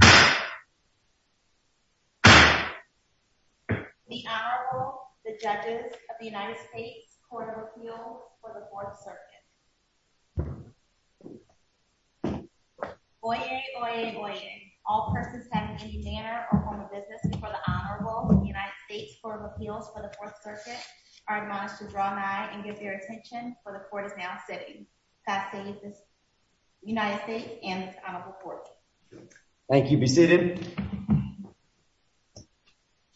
The Honorable, the Judges of the United States Court of Appeals for the 4th Circuit. Oyez, oyez, oyez. All persons having any manner or form of business before the Honorable of the United States Court of Appeals for the 4th Circuit are admonished to draw nigh and give their attention, for the Court is now sitting. Passes the United States and the Honorable Court. Thank you. Be seated.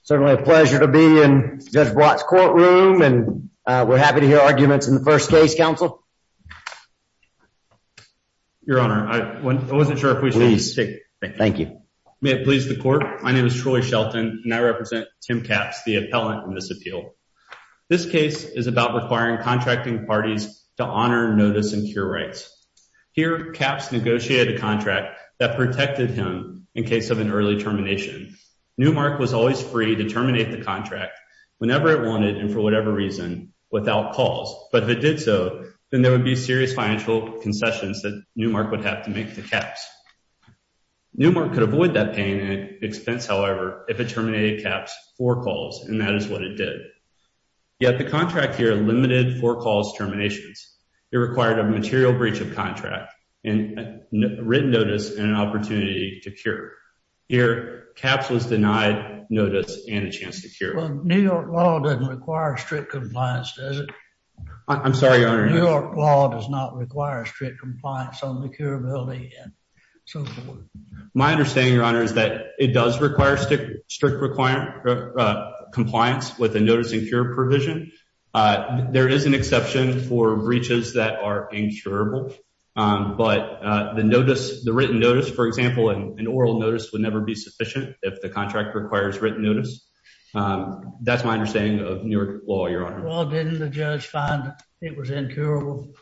Certainly a pleasure to be in Judge Blatt's courtroom and we're happy to hear arguments in the first case, Counsel. Your Honor, I wasn't sure if we should speak. Thank you. May it please the Court, my name is Troy Shelton and I represent Tim Capps, the appellant in this appeal. This case is about requiring contracting parties to honor notice and cure rights. Here, Capps negotiated a contract that protected him in case of an early termination. Newmark was always free to terminate the contract whenever it wanted and for whatever reason without calls. But if it did so, then there would be serious financial concessions that Newmark would have to make to Capps. Newmark could avoid that pain and expense, however, if it terminated Capps for calls, and that is what it did. Yet the contract here limited for-calls terminations. It required a material breach of contract and written notice and an opportunity to cure. Here, Capps was denied notice and a chance to cure. Well, New York law doesn't require strict compliance, does it? I'm sorry, Your Honor. New York law does not require strict compliance on the curability and so forth. My understanding, Your Honor, is that it does require strict compliance with the notice and cure provision. There is an exception for breaches that are incurable, but the written notice, for example, an oral notice would never be sufficient if the contract requires written notice. That's my understanding of New York law, Your Honor. Well, didn't the judge find it was incurable?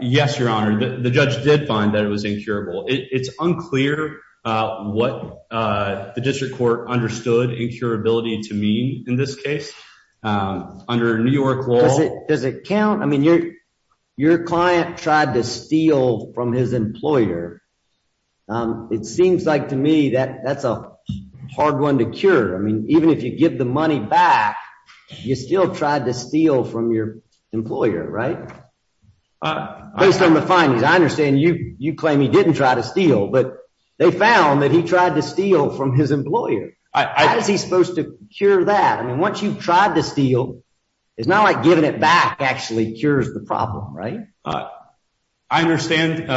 Yes, Your Honor, the judge did find that it was incurable. It's unclear what the district court understood incurability to mean in this case. Under New York law- Does it count? I mean, your client tried to steal from his employer. It seems like to me that that's a hard one to cure. I mean, even if you give the money back, you still tried to steal from your employer, right? Based on the findings, I understand you claim he didn't try to steal, but they found that he tried to steal from his employer. How is he supposed to cure that? I mean, once you've tried to steal, it's not like giving it back actually cures the problem, right? I understand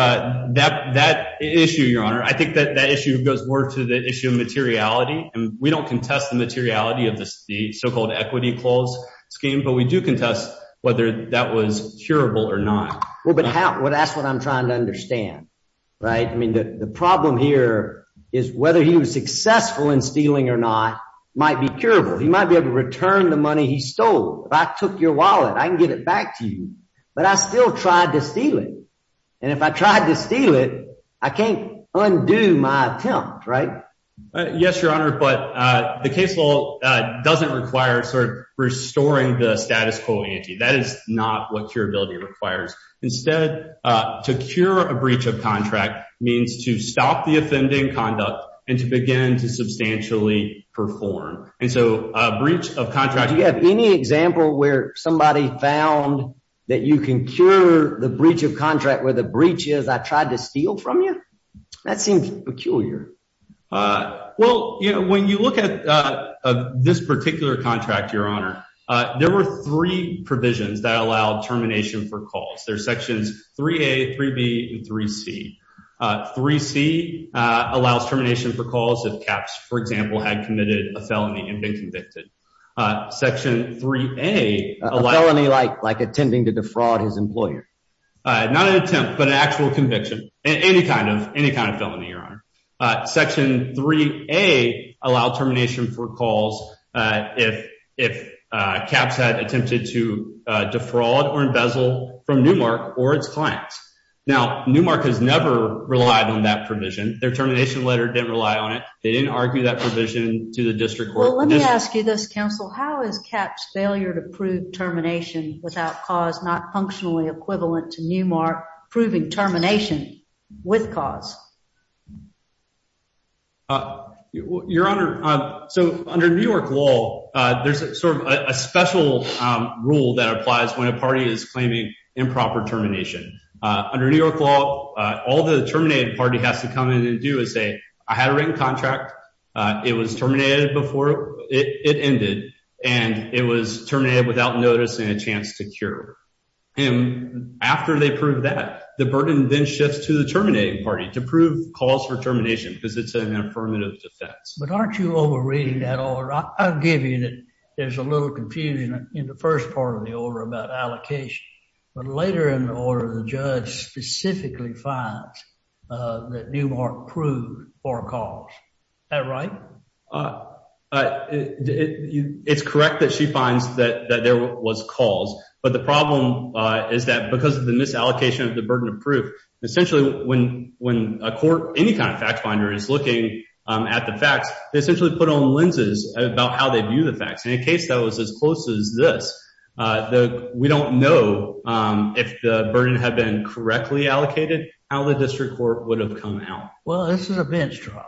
that issue, Your Honor. I think that that issue goes more to the issue of materiality. And we don't contest the materiality of the so-called equity clause scheme, but we do contest whether that was curable or not. Well, but that's what I'm trying to understand, right? I mean, the problem here is whether he was successful in stealing or not might be curable. He might be able to return the money he stole. If I took your wallet, I can get it back to you. But I still tried to steal it. And if I tried to steal it, I can't undo my attempt, right? Yes, Your Honor, but the case law doesn't require sort of restoring the status quo ante. That is not what curability requires. Instead, to cure a breach of contract means to stop the offending conduct and to begin to substantially perform. Do you have any example where somebody found that you can cure the breach of contract where the breach is I tried to steal from you? That seems peculiar. Well, you know, when you look at this particular contract, Your Honor, there were three provisions that allowed termination for calls. There are sections 3A, 3B, and 3C. 3C allows termination for calls if caps, for example, had committed a felony and been convicted. Section 3A. A felony like like attempting to defraud his employer? Not an attempt, but an actual conviction. Any kind of any kind of felony, Your Honor. Section 3A allow termination for calls if if caps had attempted to defraud or embezzle from Newmark or its clients. Now, Newmark has never relied on that provision. Their termination letter didn't rely on it. They didn't argue that provision to the district court. Let me ask you this, counsel. How is caps failure to prove termination without cause not functionally equivalent to Newmark proving termination with cause? Your Honor. So under New York law, there's sort of a special rule that applies when a party is claiming improper termination. Under New York law, all the terminated party has to come in and do is say I had a written contract. It was terminated before it ended and it was terminated without noticing a chance to cure. After they prove that, the burden then shifts to the terminating party to prove cause for termination because it's an affirmative defense. But aren't you over reading that order? I'll give you that. There's a little confusion in the first part of the order about allocation. But later in the order, the judge specifically finds that Newmark proved for cause. Is that right? It's correct that she finds that there was cause. But the problem is that because of the misallocation of the burden of proof, essentially, when a court, any kind of fact finder is looking at the facts, they essentially put on lenses about how they view the facts. In a case that was as close as this, we don't know if the burden had been correctly allocated, how the district court would have come out. Well, this is a bench trial.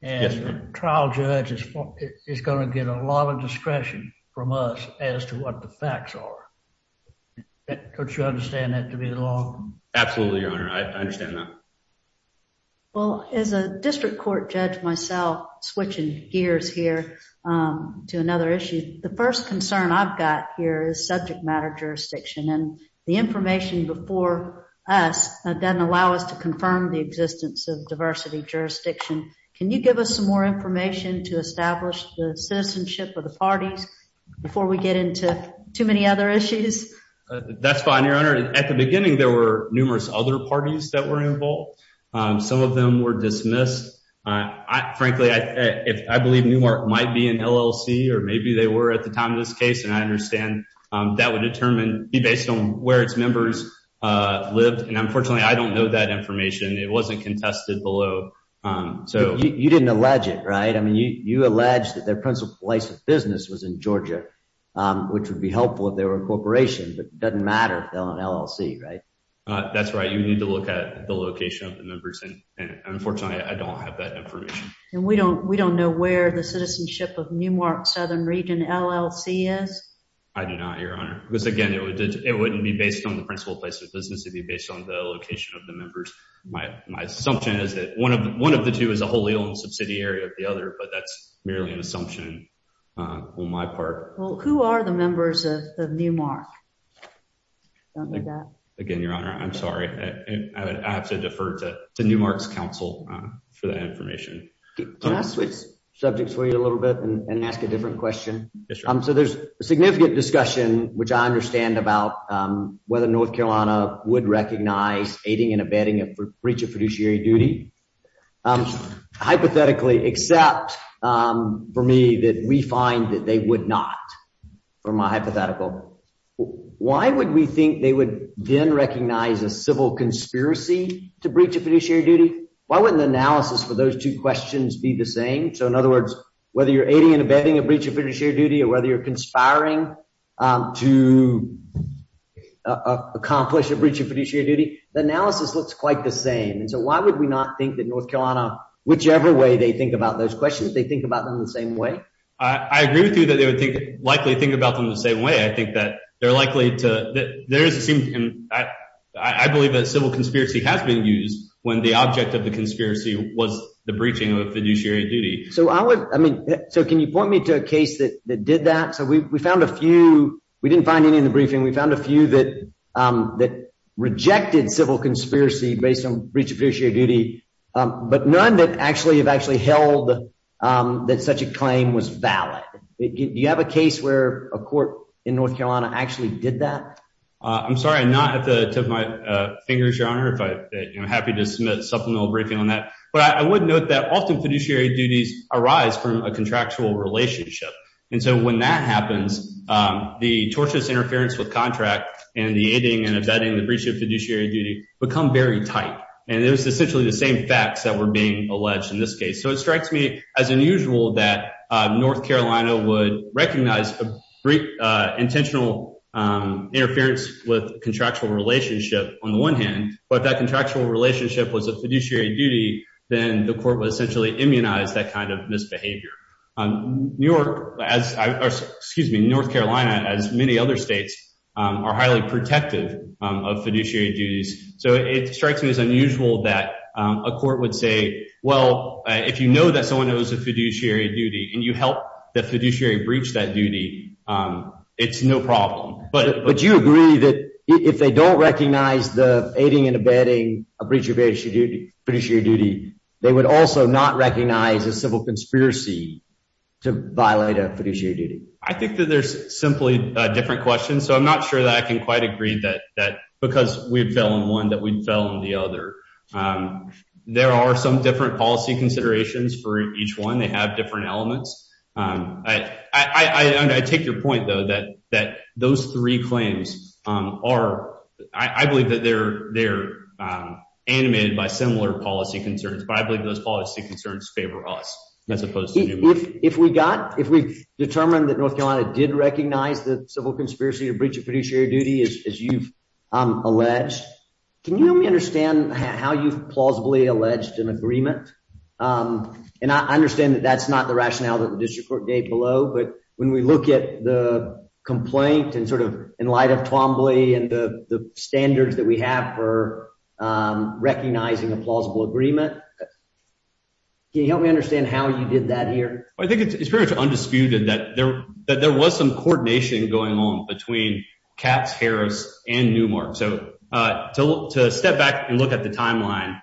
And the trial judge is going to get a lot of discretion from us as to what the facts are. Don't you understand that to be the law? Absolutely, Your Honor. I understand that. Well, as a district court judge myself, switching gears here to another issue, the first concern I've got here is subject matter jurisdiction. And the information before us doesn't allow us to confirm the existence of diversity jurisdiction. Can you give us some more information to establish the citizenship of the parties before we get into too many other issues? That's fine, Your Honor. At the beginning, there were numerous other parties that were involved. Some of them were dismissed. Frankly, I believe Newmark might be an LLC or maybe they were at the time of this case. And I understand that would determine, be based on where its members lived. And unfortunately, I don't know that information. It wasn't contested below. You didn't allege it, right? I mean, you allege that their principal place of business was in Georgia, which would be helpful if they were a corporation. But it doesn't matter if they're an LLC, right? That's right. You need to look at the location of the members. And unfortunately, I don't have that information. And we don't we don't know where the citizenship of Newmark Southern Region LLC is. I do not, Your Honor, because, again, it would it wouldn't be based on the principal place of business to be based on the location of the members. My assumption is that one of one of the two is a wholly owned subsidiary of the other. But that's merely an assumption on my part. Who are the members of Newmark? Again, Your Honor, I'm sorry. I have to defer to Newmark's counsel for that information. Let's switch subjects for you a little bit and ask a different question. So there's a significant discussion, which I understand about whether North Carolina would recognize aiding and abetting a breach of fiduciary duty. Hypothetically, except for me that we find that they would not for my hypothetical. Why would we think they would then recognize a civil conspiracy to breach of fiduciary duty? Why wouldn't the analysis for those two questions be the same? So, in other words, whether you're aiding and abetting a breach of fiduciary duty or whether you're conspiring to accomplish a breach of fiduciary duty, the analysis looks quite the same. And so why would we not think that North Carolina, whichever way they think about those questions, they think about them the same way? I agree with you that they would likely think about them the same way. I think that they're likely to. There is a I believe that civil conspiracy has been used when the object of the conspiracy was the breaching of fiduciary duty. So I mean, so can you point me to a case that did that? So we found a few. We didn't find any in the briefing. We found a few that that rejected civil conspiracy based on breach of fiduciary duty. But none that actually have actually held that such a claim was valid. Do you have a case where a court in North Carolina actually did that? I'm sorry, I'm not at the tip of my fingers, Your Honor, if I'm happy to submit supplemental briefing on that. But I would note that often fiduciary duties arise from a contractual relationship. And so when that happens, the tortious interference with contract and the aiding and abetting the breach of fiduciary duty become very tight. And it was essentially the same facts that were being alleged in this case. So it strikes me as unusual that North Carolina would recognize intentional interference with contractual relationship on the one hand. But that contractual relationship was a fiduciary duty. Then the court would essentially immunize that kind of misbehavior. New York as excuse me, North Carolina, as many other states, are highly protective of fiduciary duties. So it strikes me as unusual that a court would say, well, if you know that someone who is a fiduciary duty and you help the fiduciary breach that duty, it's no problem. But would you agree that if they don't recognize the aiding and abetting a breach of fiduciary duty, they would also not recognize a civil conspiracy to violate a fiduciary duty? I think that there's simply different questions. So I'm not sure that I can quite agree that because we fell in one that we fell in the other. There are some different policy considerations for each one. They have different elements. I take your point, though, that that those three claims are I believe that they're they're animated by similar policy concerns. But I believe those policy concerns favor us as opposed to if we got if we determined that North Carolina did recognize the civil conspiracy to breach of fiduciary duty, as you've alleged. Can you help me understand how you've plausibly alleged an agreement? And I understand that that's not the rationale that the district court gave below. But when we look at the complaint and sort of in light of Twombly and the standards that we have for recognizing a plausible agreement, can you help me understand how you did that here? I think it's pretty much undisputed that there that there was some coordination going on between Katz, Harris and Newmark. So to step back and look at the timeline,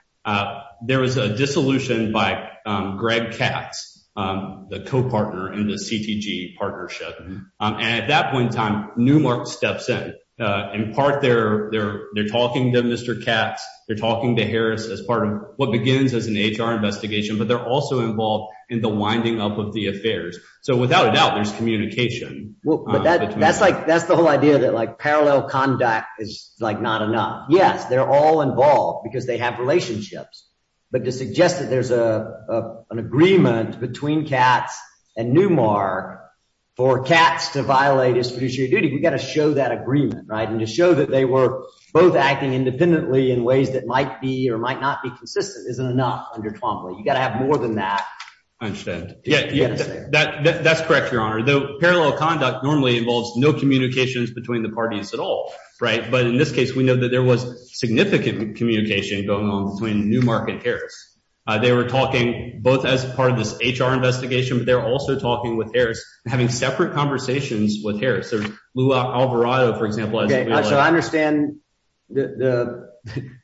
there was a dissolution by Greg Katz, the co-partner in the CTG partnership. And at that point in time, Newmark steps in. In part, they're there. They're talking to Mr. Katz. They're talking to Harris as part of what begins as an HR investigation. But they're also involved in the winding up of the affairs. So without a doubt, there's communication. That's like that's the whole idea that like parallel conduct is like not enough. Yes, they're all involved because they have relationships. But to suggest that there's a an agreement between Katz and Newmark for Katz to violate his fiduciary duty, we've got to show that agreement. And to show that they were both acting independently in ways that might be or might not be consistent isn't enough under Twombly. You've got to have more than that. I understand. Yes, that's correct, Your Honor. The parallel conduct normally involves no communications between the parties at all. Right. But in this case, we know that there was significant communication going on between Newmark and Harris. They were talking both as part of this HR investigation, but they're also talking with Harris, having separate conversations with Harris. Lou Alvarado, for example. So I understand that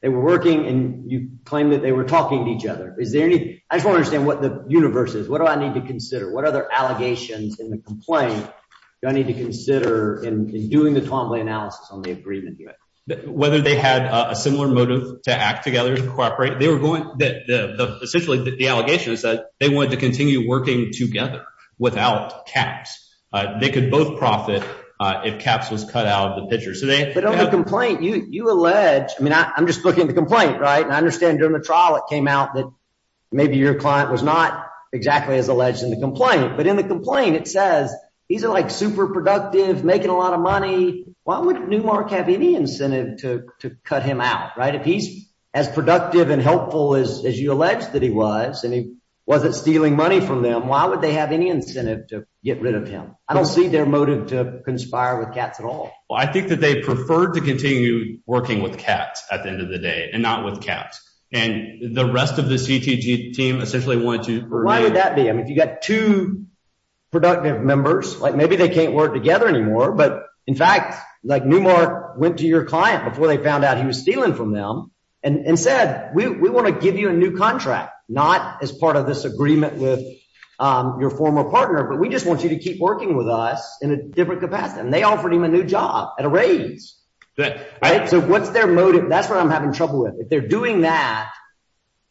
they were working and you claim that they were talking to each other. I just want to understand what the universe is. What do I need to consider? What other allegations in the complaint do I need to consider in doing the Twombly analysis on the agreement? Whether they had a similar motive to act together to cooperate, they were going that essentially the allegation is that they wanted to continue working together without Katz. They could both profit if Katz was cut out of the picture. But on the complaint, you allege, I mean, I'm just looking at the complaint. I understand during the trial, it came out that maybe your client was not exactly as alleged in the complaint. But in the complaint, it says he's like super productive, making a lot of money. Why would Newmark have any incentive to cut him out? If he's as productive and helpful as you allege that he was and he wasn't stealing money from them, why would they have any incentive to get rid of him? I don't see their motive to conspire with Katz at all. I think that they preferred to continue working with Katz at the end of the day and not with Katz. And the rest of the CTG team essentially wanted to... Why would that be? I mean, if you've got two productive members, like maybe they can't work together anymore. But in fact, like Newmark went to your client before they found out he was stealing from them and said, we want to give you a new contract. Not as part of this agreement with your former partner, but we just want you to keep working with us in a different capacity. And they offered him a new job at a raise. So what's their motive? That's what I'm having trouble with. If they're doing that,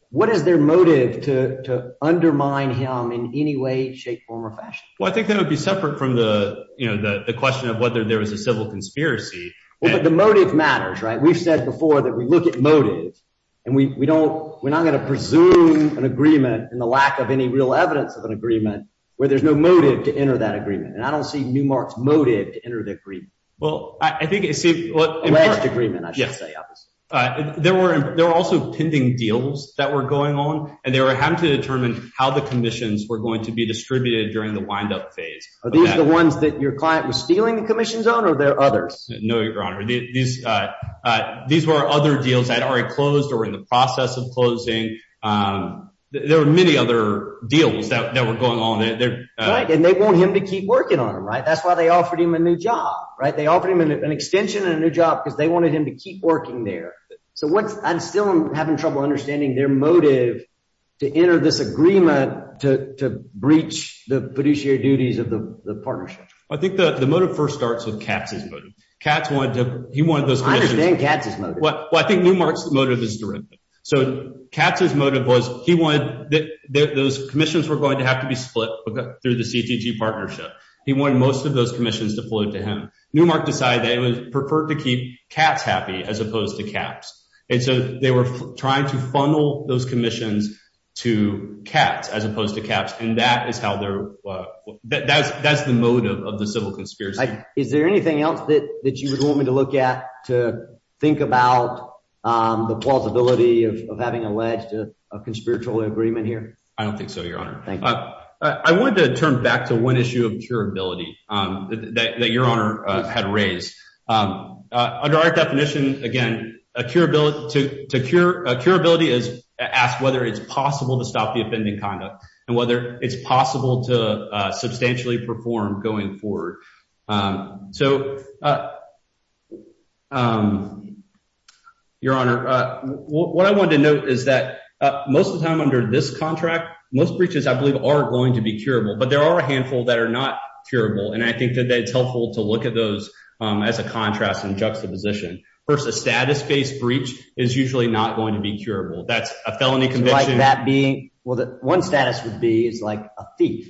what is their motive to undermine him in any way, shape, form or fashion? Well, I think that would be separate from the question of whether there was a civil conspiracy. But the motive matters, right? We've said before that we look at motive and we don't... We're not going to presume an agreement in the lack of any real evidence of an agreement where there's no motive to enter that agreement. And I don't see Newmark's motive to enter that agreement. Well, I think... Alleged agreement, I should say, obviously. There were also pending deals that were going on and they were having to determine how the commissions were going to be distributed during the windup phase. Are these the ones that your client was stealing the commissions on or are there others? No, Your Honor. These were other deals that had already closed or were in the process of closing. There were many other deals that were going on. Right. And they want him to keep working on them, right? That's why they offered him a new job, right? They offered him an extension and a new job because they wanted him to keep working there. So I'm still having trouble understanding their motive to enter this agreement to breach the fiduciary duties of the partnership. I think the motive first starts with Katz's motive. Katz wanted to... He wanted those commissions... I understand Katz's motive. Well, I think Newmark's motive is direct. So Katz's motive was he wanted... Those commissions were going to have to be split through the CTG partnership. He wanted most of those commissions to flow to him. Newmark decided they would prefer to keep Katz happy as opposed to Katz. And so they were trying to funnel those commissions to Katz as opposed to Katz. And that is how they're... That's the motive of the civil conspiracy. Is there anything else that you would want me to look at to think about the plausibility of having alleged a conspiratorial agreement here? I don't think so, Your Honor. Thank you. I wanted to turn back to one issue of curability that Your Honor had raised. Under our definition, again, a curability is asked whether it's possible to stop the offending conduct and whether it's possible to substantially perform going forward. So, Your Honor, what I wanted to note is that most of the time under this contract, most breaches I believe are going to be curable. But there are a handful that are not curable, and I think that it's helpful to look at those as a contrast and juxtaposition. First, a status-based breach is usually not going to be curable. That's a felony conviction. Like that being... Well, one status would be it's like a thief.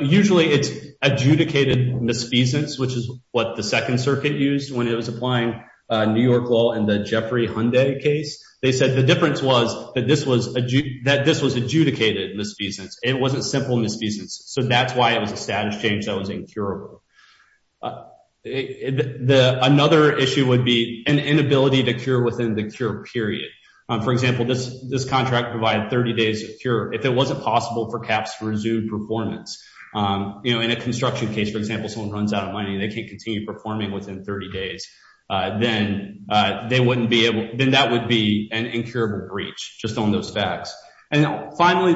Usually it's adjudicated misfeasance, which is what the Second Circuit used when it was applying New York law in the Jeffrey Hyundai case. They said the difference was that this was adjudicated misfeasance. It wasn't simple misfeasance. So that's why it was a status change that was incurable. Another issue would be an inability to cure within the cure period. For example, this contract provided 30 days of cure. If it wasn't possible for caps to resume performance, you know, in a construction case, for example, someone runs out of money and they can't continue performing within 30 days, then that would be an incurable breach, just on those facts. And finally,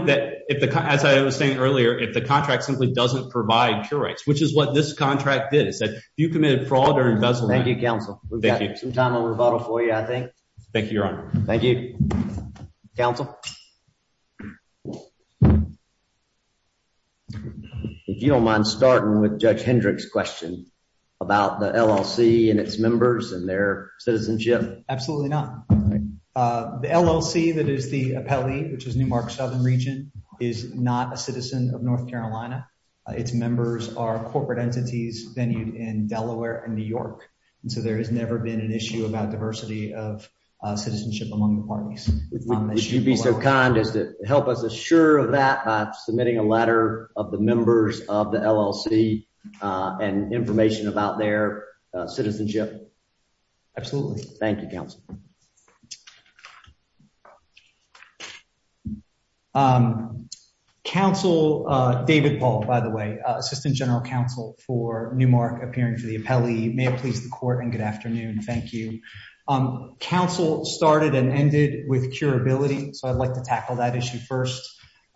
as I was saying earlier, if the contract simply doesn't provide cure rights, which is what this contract did. It said if you committed fraud or embezzlement... Thank you, Counsel. We've got some time on rebuttal for you, I think. Thank you, Your Honor. Thank you, Counsel. If you don't mind starting with Judge Hendrick's question about the LLC and its members and their citizenship. Absolutely not. The LLC that is the appellee, which is Newmark Southern Region, is not a citizen of North Carolina. Its members are corporate entities venued in Delaware and New York. And so there has never been an issue about diversity of citizenship among the parties. If you'd be so kind as to help us assure of that by submitting a letter of the members of the LLC and information about their citizenship. Thank you, Counsel. Counsel David Paul, by the way, Assistant General Counsel for Newmark, appearing for the appellee. May it please the court and good afternoon. Thank you. Counsel started and ended with curability. So I'd like to tackle that issue first.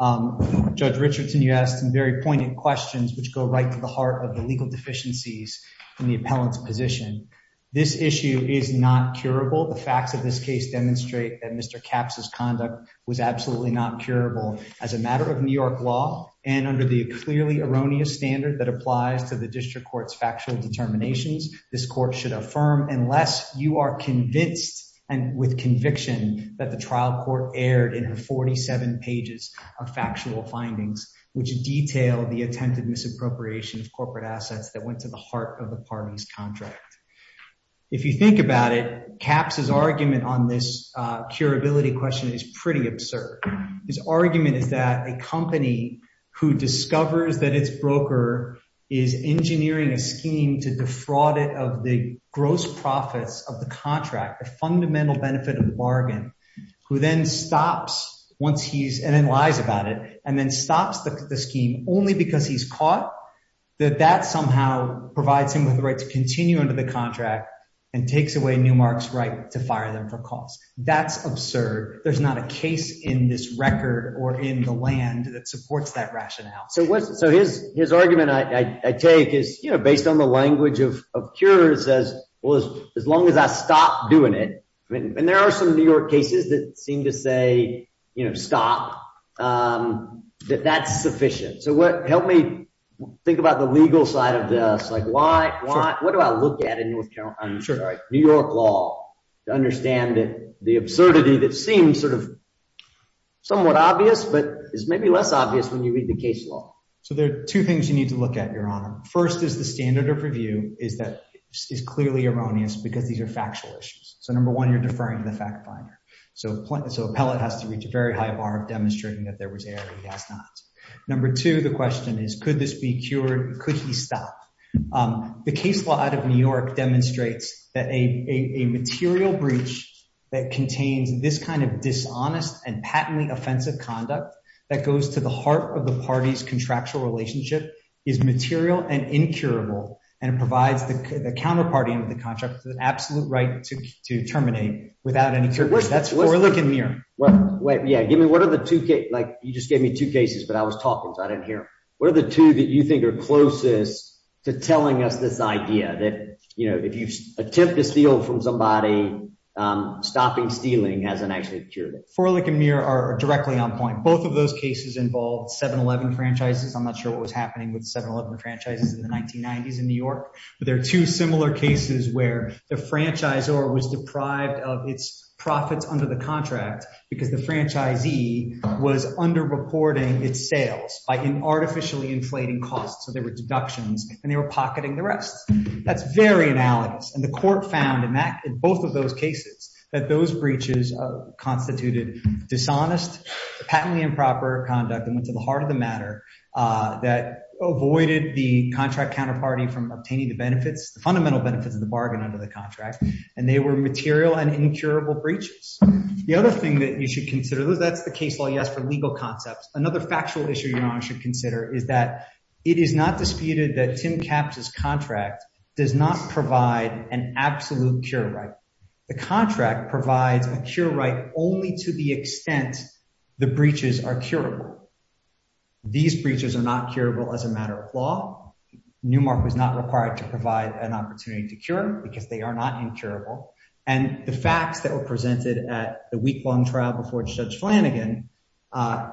Judge Richardson, you asked some very pointed questions, which go right to the heart of the legal deficiencies in the appellant's position. This issue is not curable. The facts of this case demonstrate that Mr. Capps' conduct was absolutely not curable. As a matter of New York law and under the clearly erroneous standard that applies to the district court's factual determinations, this court should affirm unless you are convinced and with conviction that the trial court aired in her 47 pages of factual findings, which detail the attempted misappropriation of corporate assets that went to the heart of the party's contract. If you think about it, Capps' argument on this curability question is pretty absurd. His argument is that a company who discovers that its broker is engineering a scheme to defraud it of the gross profits of the contract, the fundamental benefit of the bargain, who then stops once he's and then lies about it and then stops the scheme only because he's caught, that that somehow provides him with the right to continue under the contract and takes away Newmark's right to fire them for costs. That's absurd. There's not a case in this record or in the land that supports that rationale. So what's so his his argument I take is, you know, based on the language of of cures as well as as long as I stop doing it. And there are some New York cases that seem to say, you know, stop that that's sufficient. So what helped me think about the legal side of this, like why? What do I look at in New York law to understand the absurdity that seems sort of somewhat obvious, but is maybe less obvious when you read the case law? So there are two things you need to look at, Your Honor. First is the standard of review is that is clearly erroneous because these are factual issues. So, number one, you're deferring to the fact finder. So so appellate has to reach a very high bar of demonstrating that there was a gas not. Number two, the question is, could this be cured? Could he stop? The case law out of New York demonstrates that a material breach that contains this kind of dishonest and patently offensive conduct that goes to the heart of the party's contractual relationship is material and incurable. And it provides the counterparty of the contract, the absolute right to terminate without any. That's what we're looking here. Wait. Yeah. Give me one of the two. Like, you just gave me two cases, but I was talking. I didn't hear where the two that you think are closest to telling us this idea that, you know, if you attempt to steal from somebody, stopping stealing hasn't actually cured. For like a mirror are directly on point. Both of those cases involved 711 franchises. I'm not sure what was happening with 711 franchises in the 1990s in New York. But there are two similar cases where the franchise or was deprived of its profits under the contract because the franchisee was under reporting its sales by an artificially inflating costs. So there were deductions and they were pocketing the rest. That's very analogous. And the court found in both of those cases that those breaches constituted dishonest patently improper conduct and went to the heart of the matter that avoided the contract counterparty from obtaining the benefits, the fundamental benefits of the bargain under the contract. And they were material and incurable breaches. The other thing that you should consider is that's the case law. Yes, for legal concepts. Another factual issue you should consider is that it is not disputed that Tim caps is contract does not provide an absolute cure, right? The contract provides a cure right only to the extent the breaches are curable. These breaches are not curable as a matter of law. Newmark was not required to provide an opportunity to cure because they are not incurable. And the facts that were presented at the weeklong trial before Judge Flanagan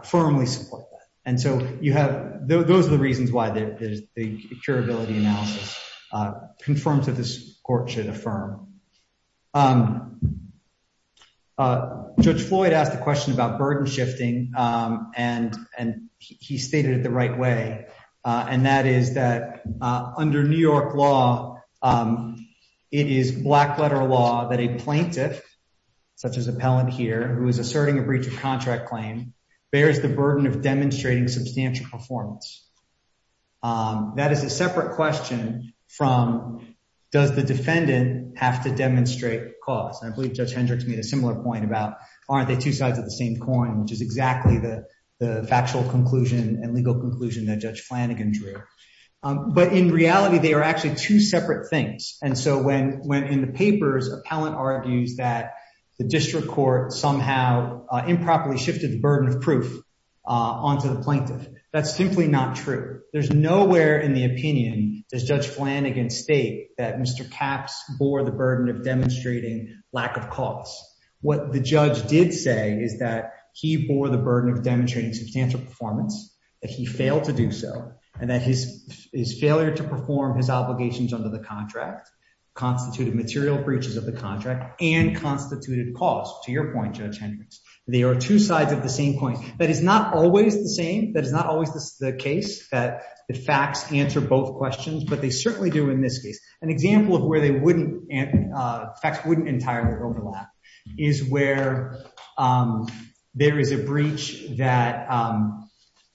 firmly support that. And so you have those are the reasons why there is the curability analysis confirmed to this court should affirm. Judge Floyd asked a question about burden shifting, and he stated it the right way. And that is that under New York law, it is black letter law that a plaintiff, such as appellant here, who is asserting a breach of contract claim, bears the burden of demonstrating substantial performance. That is a separate question from does the defendant have to demonstrate cause? I believe Judge Hendricks made a similar point about aren't they two sides of the same coin, which is exactly the factual conclusion and legal conclusion that Judge Flanagan drew. But in reality, they are actually two separate things. And so when when in the papers, appellant argues that the district court somehow improperly shifted the burden of proof onto the plaintiff. That's simply not true. There's nowhere in the opinion does Judge Flanagan state that Mr. Capps bore the burden of demonstrating lack of cause. What the judge did say is that he bore the burden of demonstrating substantial performance, that he failed to do so, and that his failure to perform his obligations under the contract constituted material breaches of the contract and constituted cause. To your point, Judge Hendricks, they are two sides of the same coin. That is not always the same. That is not always the case that the facts answer both questions, but they certainly do in this case. An example of where they wouldn't and facts wouldn't entirely overlap is where there is a breach that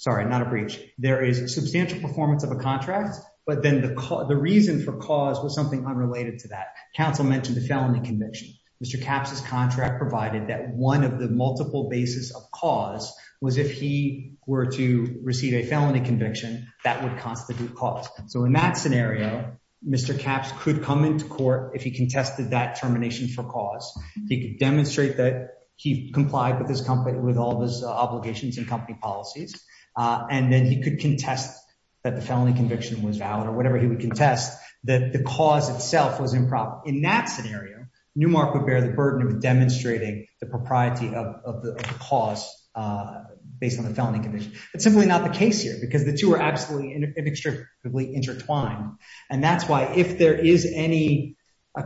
sorry, not a breach. There is a substantial performance of a contract, but then the reason for cause was something unrelated to that. Council mentioned the felony conviction. Mr. Capps' contract provided that one of the multiple basis of cause was if he were to receive a felony conviction, that would constitute cause. So in that scenario, Mr. Capps could come into court if he contested that termination for cause. He could demonstrate that he complied with all of his obligations and company policies. And then he could contest that the felony conviction was valid or whatever he would contest that the cause itself was improper. In that scenario, Newmark would bear the burden of demonstrating the propriety of the cause based on the felony conviction. That's simply not the case here because the two are absolutely inextricably intertwined. And that's why if there is any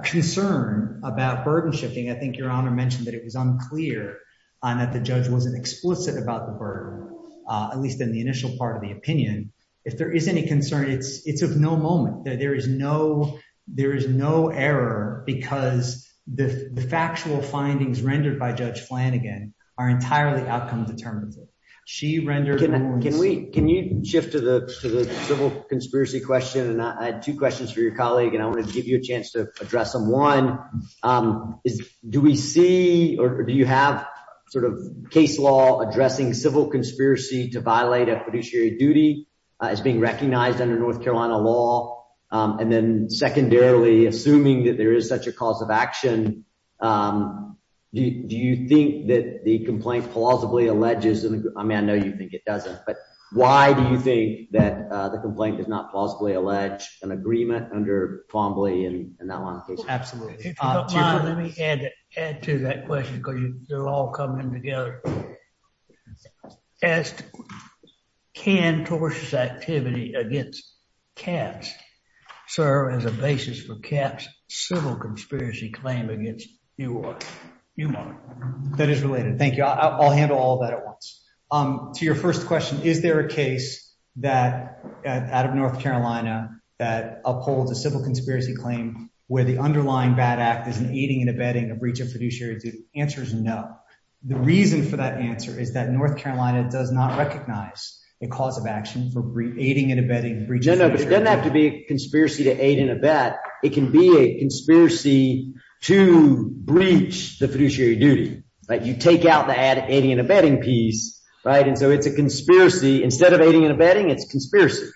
concern about burden shifting, I think Your Honor mentioned that it was unclear that the judge wasn't explicit about the burden, at least in the initial part of the opinion. If there is any concern, it's of no moment. There is no error because the factual findings rendered by Judge Flanagan are entirely outcome determinative. She rendered... Can we can you shift to the civil conspiracy question? And I had two questions for your colleague, and I want to give you a chance to address them. One is, do we see or do you have sort of case law addressing civil conspiracy to violate a fiduciary duty as being recognized under North Carolina law? And then secondarily, assuming that there is such a cause of action, do you think that the complaint plausibly alleges... I mean, I know you think it doesn't, but why do you think that the complaint does not plausibly allege an agreement under Fombley and that line of case law? Absolutely. Let me add to that question because they're all coming together. Can tortious activity against CAPS serve as a basis for CAPS civil conspiracy claim against you, Your Honor? No, but it doesn't have to be a conspiracy to aid and abet. It can be a conspiracy to breach the fiduciary duty. You take out the aid and abetting piece, right? And so it's a conspiracy. Instead of aiding and abetting, it's conspiracy.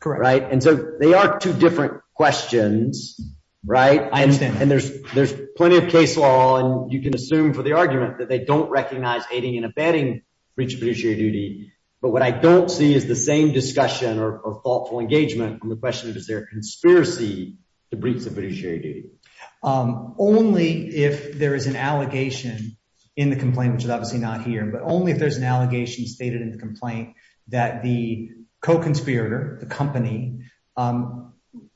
Correct. Right? And so they are two different questions, right? I understand. And there's plenty of case law, and you can assume for the argument that they don't recognize aiding and abetting breach of fiduciary duty. But what I don't see is the same discussion or thoughtful engagement on the question, is there a conspiracy to breach the fiduciary duty? Only if there is an allegation in the complaint, which is obviously not here, but only if there's an allegation stated in the complaint that the co-conspirator, the company,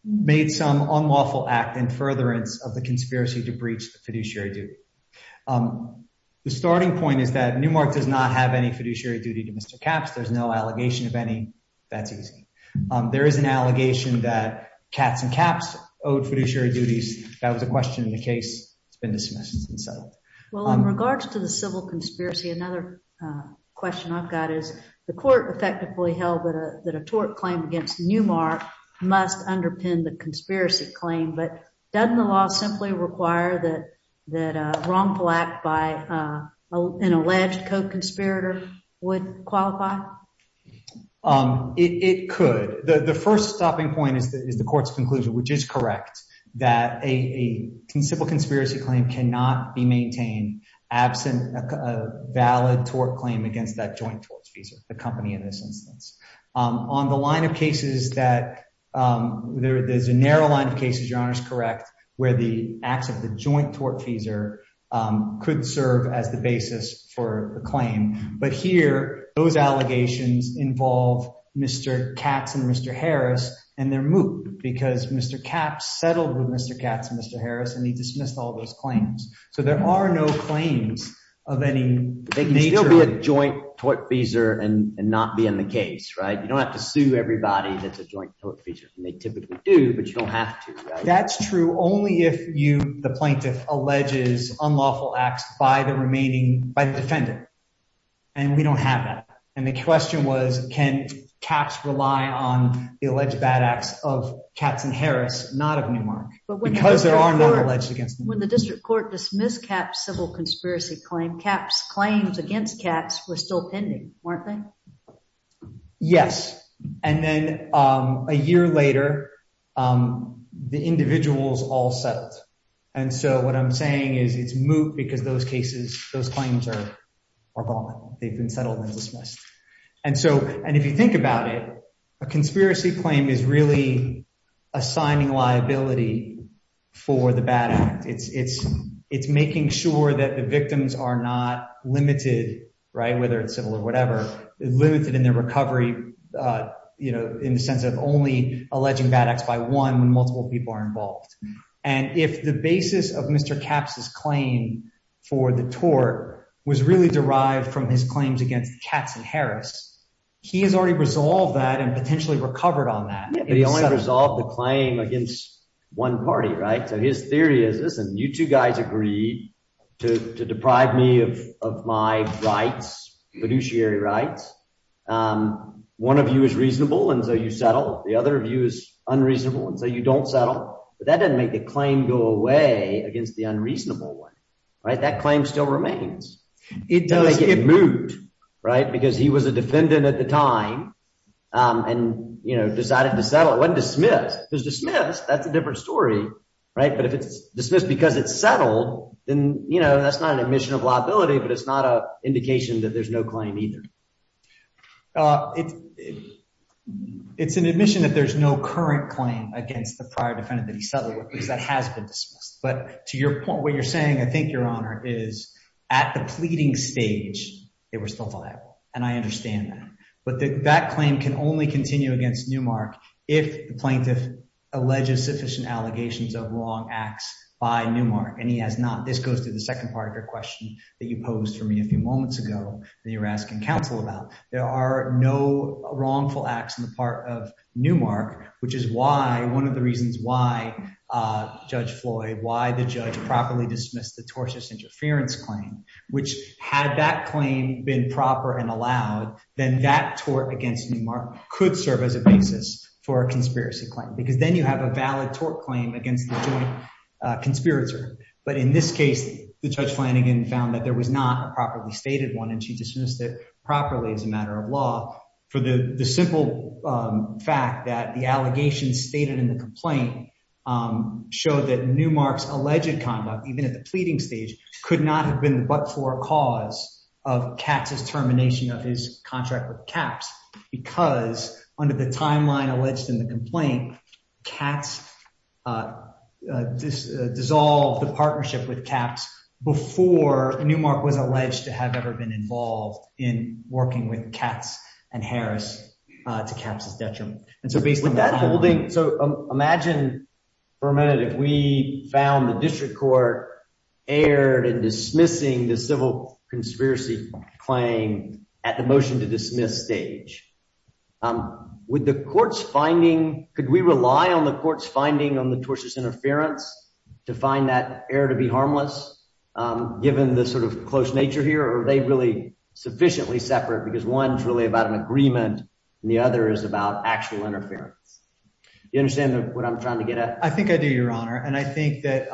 made some unlawful act in furtherance of the conspiracy to breach the fiduciary duty. The starting point is that Newmark does not have any fiduciary duty to Mr. Capps. There's no allegation of any. That's easy. There is an allegation that Katz and Capps owed fiduciary duties. That was a question in the case. It's been dismissed and settled. Well, in regards to the civil conspiracy, another question I've got is the court effectively held that a tort claim against Newmark must underpin the conspiracy claim. But doesn't the law simply require that a wrongful act by an alleged co-conspirator would qualify? It could. The first stopping point is the court's conclusion, which is correct, that a civil conspiracy claim cannot be maintained absent a valid tort claim against that joint tortfeasor, the company in this instance. On the line of cases that there is a narrow line of cases, Your Honor is correct, where the acts of the joint tortfeasor could serve as the basis for a claim. But here, those allegations involve Mr. Katz and Mr. Harris and their moot because Mr. Capps settled with Mr. Katz and Mr. Harris and he dismissed all those claims. So there are no claims of any nature. You can't be a joint tortfeasor and not be in the case, right? You don't have to sue everybody that's a joint tortfeasor. They typically do, but you don't have to. That's true only if the plaintiff alleges unlawful acts by the defending. And we don't have that. And the question was, can Katz rely on the alleged bad acts of Katz and Harris, not of Newmark? When the district court dismissed Katz's civil conspiracy claim, Katz's claims against Katz were still pending, weren't they? Yes. And then a year later, the individuals all settled. And so what I'm saying is it's moot because those cases, those claims are valid. They've been settled and dismissed. And if you think about it, a conspiracy claim is really assigning liability for the bad act. It's making sure that the victims are not limited, whether it's civil or whatever, limited in their recovery in the sense of only alleging bad acts by one when multiple people are involved. And if the basis of Mr. Katz's claim for the tort was really derived from his claims against Katz and Harris, he has already resolved that and potentially recovered on that. But he only resolved the claim against one party, right? So his theory is, listen, you two guys agreed to deprive me of my rights, fiduciary rights. One of you is reasonable, and so you settle. The other of you is unreasonable, and so you don't settle. But that doesn't make the claim go away against the unreasonable one, right? That claim still remains. It doesn't make it moot, right? Because he was a defendant at the time and decided to settle. It wasn't dismissed. If it's dismissed, that's a different story, right? But to your point, what you're saying, I think, Your Honor, is at the pleading stage, they were still viable. And I understand that. But that claim can only continue against Newmark if the plaintiff alleges sufficient allegations of wrong acts by Newmark. And he has not. This goes to the second part of your question that you posed for me a few moments ago that you were asking counsel about. There are no wrongful acts on the part of Newmark, which is why one of the reasons why Judge Floyd, why the judge properly dismissed the tortious interference claim, which had that claim been proper and allowed, then that tort against Newmark could serve as a basis for a conspiracy claim. Because then you have a valid tort claim against the joint conspirator. But in this case, the judge Flanagan found that there was not a properly stated one, and she dismissed it properly as a matter of law for the simple fact that the allegations stated in the complaint showed that Newmark's alleged conduct, even at the pleading stage, could not have been but for a cause of Katz's termination of his contract with Katz because under the timeline alleged in the complaint, Katz dissolved the partnership with Katz before Newmark was alleged to have ever been involved in working with Katz and Harris to Katz's detriment. So imagine for a minute if we found the district court erred in dismissing the civil conspiracy claim at the motion to dismiss stage. With the court's finding, could we rely on the court's finding on the tortious interference to find that error to be harmless, given the sort of close nature here, or are they really sufficiently separate because one is really about an agreement, and the other is about actual interference? You understand what I'm trying to get at? I think I do, Your Honor, and I think that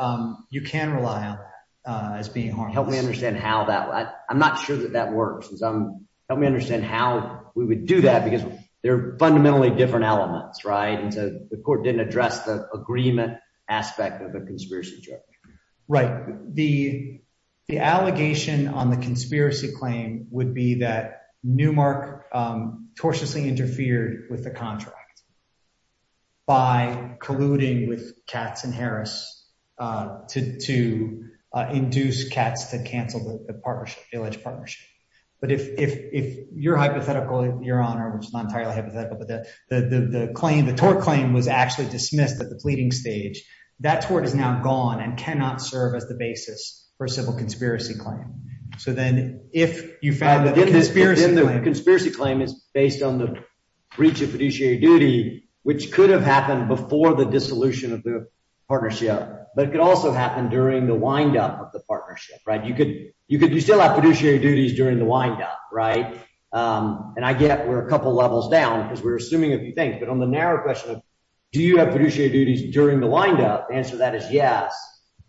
you can rely on that as being harmless. I'm not sure that that works. Help me understand how we would do that because they're fundamentally different elements, right? And so the court didn't address the agreement aspect of a conspiracy charge. Right. The allegation on the conspiracy claim would be that Newmark tortiously interfered with the contract by colluding with Katz and Harris to induce Katz to cancel the partnership, the alleged partnership. But if your hypothetical, Your Honor, which is not entirely hypothetical, but the tort claim was actually dismissed at the pleading stage, that tort is now gone and cannot serve as the basis for a civil conspiracy claim. So then if you found that the conspiracy claim is based on the breach of fiduciary duty, which could have happened before the dissolution of the partnership, but it could also happen during the windup of the partnership, right? You still have fiduciary duties during the windup, right? And I get we're a couple of levels down because we're assuming a few things. But on the narrow question of do you have fiduciary duties during the windup? The answer to that is yes.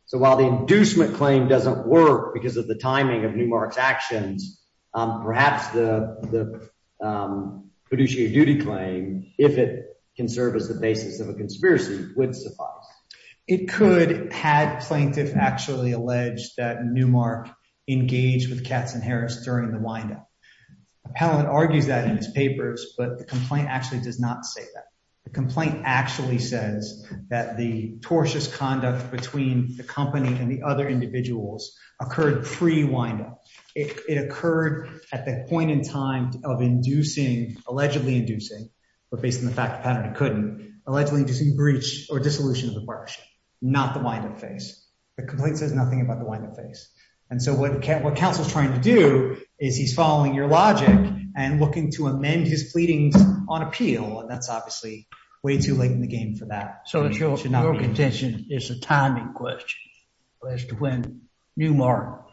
So while the inducement claim doesn't work because of the timing of Newmark's actions, perhaps the fiduciary duty claim, if it can serve as the basis of a conspiracy, would suffice. It could had plaintiff actually alleged that Newmark engaged with Katz and Harris during the windup. Appellant argues that in his papers, but the complaint actually does not say that. The complaint actually says that the tortious conduct between the company and the other individuals occurred pre-windup. It occurred at the point in time of inducing, allegedly inducing, but based on the fact that it couldn't, allegedly due to breach or dissolution of the partnership, not the windup phase. The complaint says nothing about the windup phase. And so what counsel is trying to do is he's following your logic and looking to amend his pleadings on appeal. And that's obviously way too late in the game for that. So your contention is a timing question as to when Newmark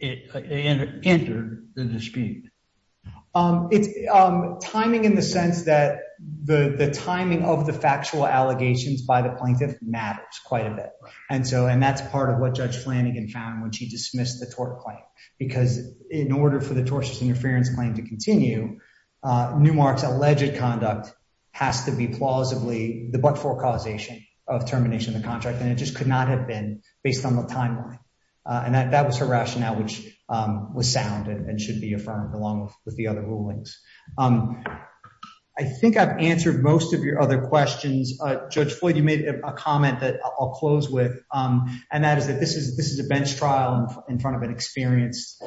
entered the dispute. It's timing in the sense that the timing of the factual allegations by the plaintiff matters quite a bit. And so, and that's part of what Judge Flanagan found when she dismissed the tort claim. Because in order for the tortious interference claim to continue, Newmark's alleged conduct has to be plausibly the but-for causation of termination of the contract. And it just could not have been based on the timeline. And that was her rationale, which was sound and should be affirmed along with the other rulings. I think I've answered most of your other questions. Judge Floyd, you made a comment that I'll close with. And that is that this is a bench trial in front of an experienced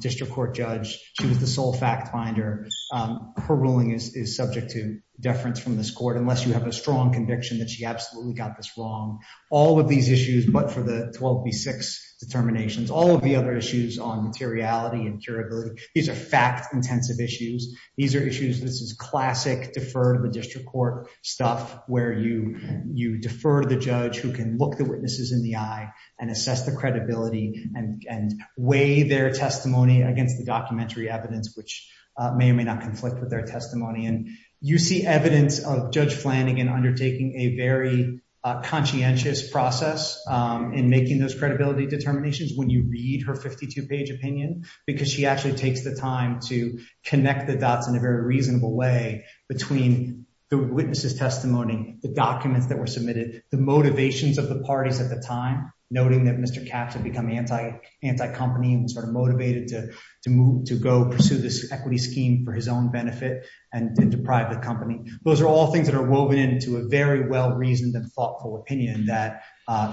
district court judge. She was the sole fact finder. Her ruling is subject to deference from this court unless you have a strong conviction that she absolutely got this wrong. All of these issues, but for the 12B6 determinations, all of the other issues on materiality and curability, these are fact-intensive issues. These are issues, this is classic defer to the district court stuff where you defer to the judge who can look the witnesses in the eye and assess the credibility and weigh their testimony against the documentary evidence, which may or may not conflict with their testimony. And you see evidence of Judge Flanagan undertaking a very conscientious process in making those credibility determinations when you read her 52-page opinion. Because she actually takes the time to connect the dots in a very reasonable way between the witnesses' testimony, the documents that were submitted, the motivations of the parties at the time. Noting that Mr. Katz had become anti-company and was sort of motivated to go pursue this equity scheme for his own benefit and deprive the company. Those are all things that are woven into a very well-reasoned and thoughtful opinion that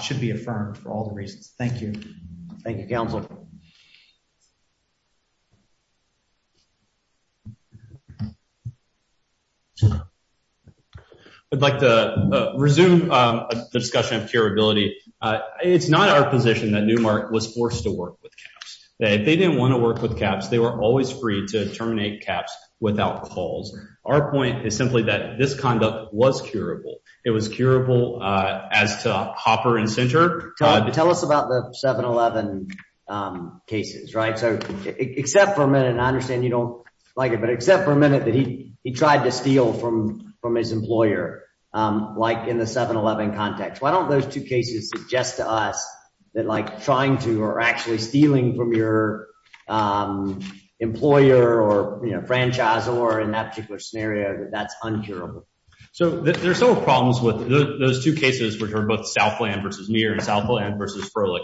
should be affirmed for all the reasons. Thank you. Thank you, Councilor. I'd like to resume the discussion of curability. It's not our position that Newmark was forced to work with CAPS. If they didn't want to work with CAPS, they were always free to terminate CAPS without calls. Our point is simply that this conduct was curable. It was curable as to Hopper and Sinter. Tell us about the 7-11 cases. Except for a minute, and I understand you don't like it, but except for a minute that he tried to steal from his employer, like in the 7-11 context. Why don't those two cases suggest to us that trying to or actually stealing from your employer or franchisor in that particular scenario, that that's uncurable? There are several problems with those two cases, which are both Southland v. Muir and Southland v. Froelich.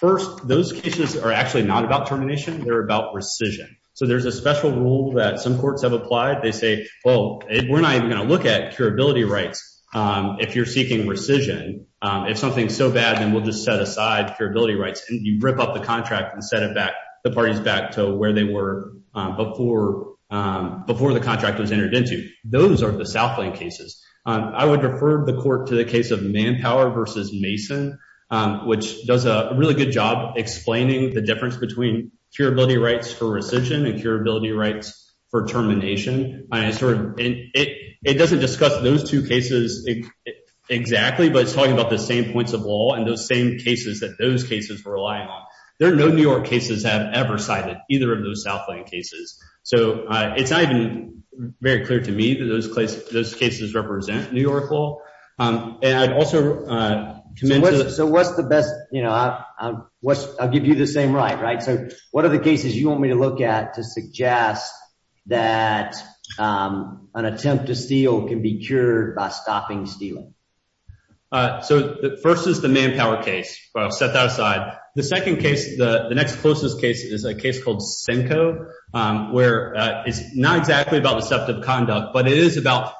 First, those cases are actually not about termination. They're about rescission. There's a special rule that some courts have applied. They say, well, we're not even going to look at curability rights if you're seeking rescission. If something's so bad, then we'll just set aside curability rights. You rip up the contract and set the parties back to where they were before the contract was entered into. Those are the Southland cases. I would refer the court to the case of Manpower v. Mason, which does a really good job explaining the difference between curability rights for rescission and curability rights for termination. It doesn't discuss those two cases exactly, but it's talking about the same points of law and those same cases that those cases were relying on. There are no New York cases that have ever cited either of those Southland cases. It's not even very clear to me that those cases represent New York law. I'll give you the same right. What are the cases you want me to look at to suggest that an attempt to steal can be cured by stopping stealing? First is the Manpower case. I'll set that aside. The next closest case is a case called Simcoe, where it's not exactly about deceptive conduct, but it is about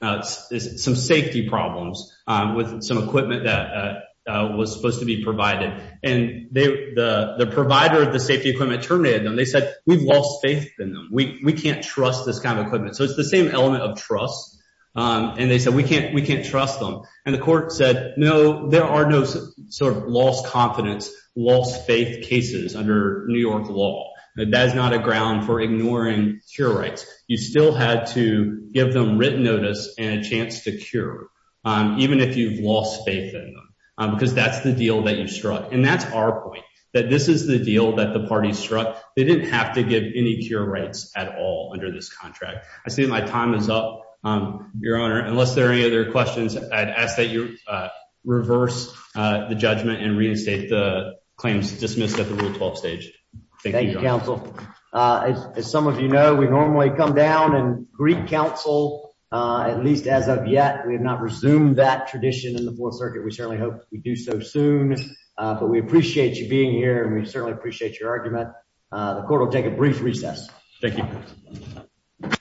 some safety problems with some equipment that was supposed to be provided. The provider of the safety equipment terminated them. They said, we've lost faith in them. We can't trust this kind of equipment. It's the same element of trust. They said, we can't trust them. The court said, no, there are no lost confidence, lost faith cases under New York law. That is not a ground for ignoring cure rights. You still had to give them written notice and a chance to cure, even if you've lost faith in them, because that's the deal that you struck. That's our point, that this is the deal that the party struck. They didn't have to give any cure rights at all under this contract. I see my time is up, Your Honor. Unless there are any other questions, I'd ask that you reverse the judgment and reinstate the claims dismissed at the Rule 12 stage. Thank you, counsel. As some of you know, we normally come down and greet counsel, at least as of yet. We have not resumed that tradition in the Fourth Circuit. We certainly hope we do so soon. But we appreciate you being here, and we certainly appreciate your argument. The court will take a brief recess. Thank you. Thank you.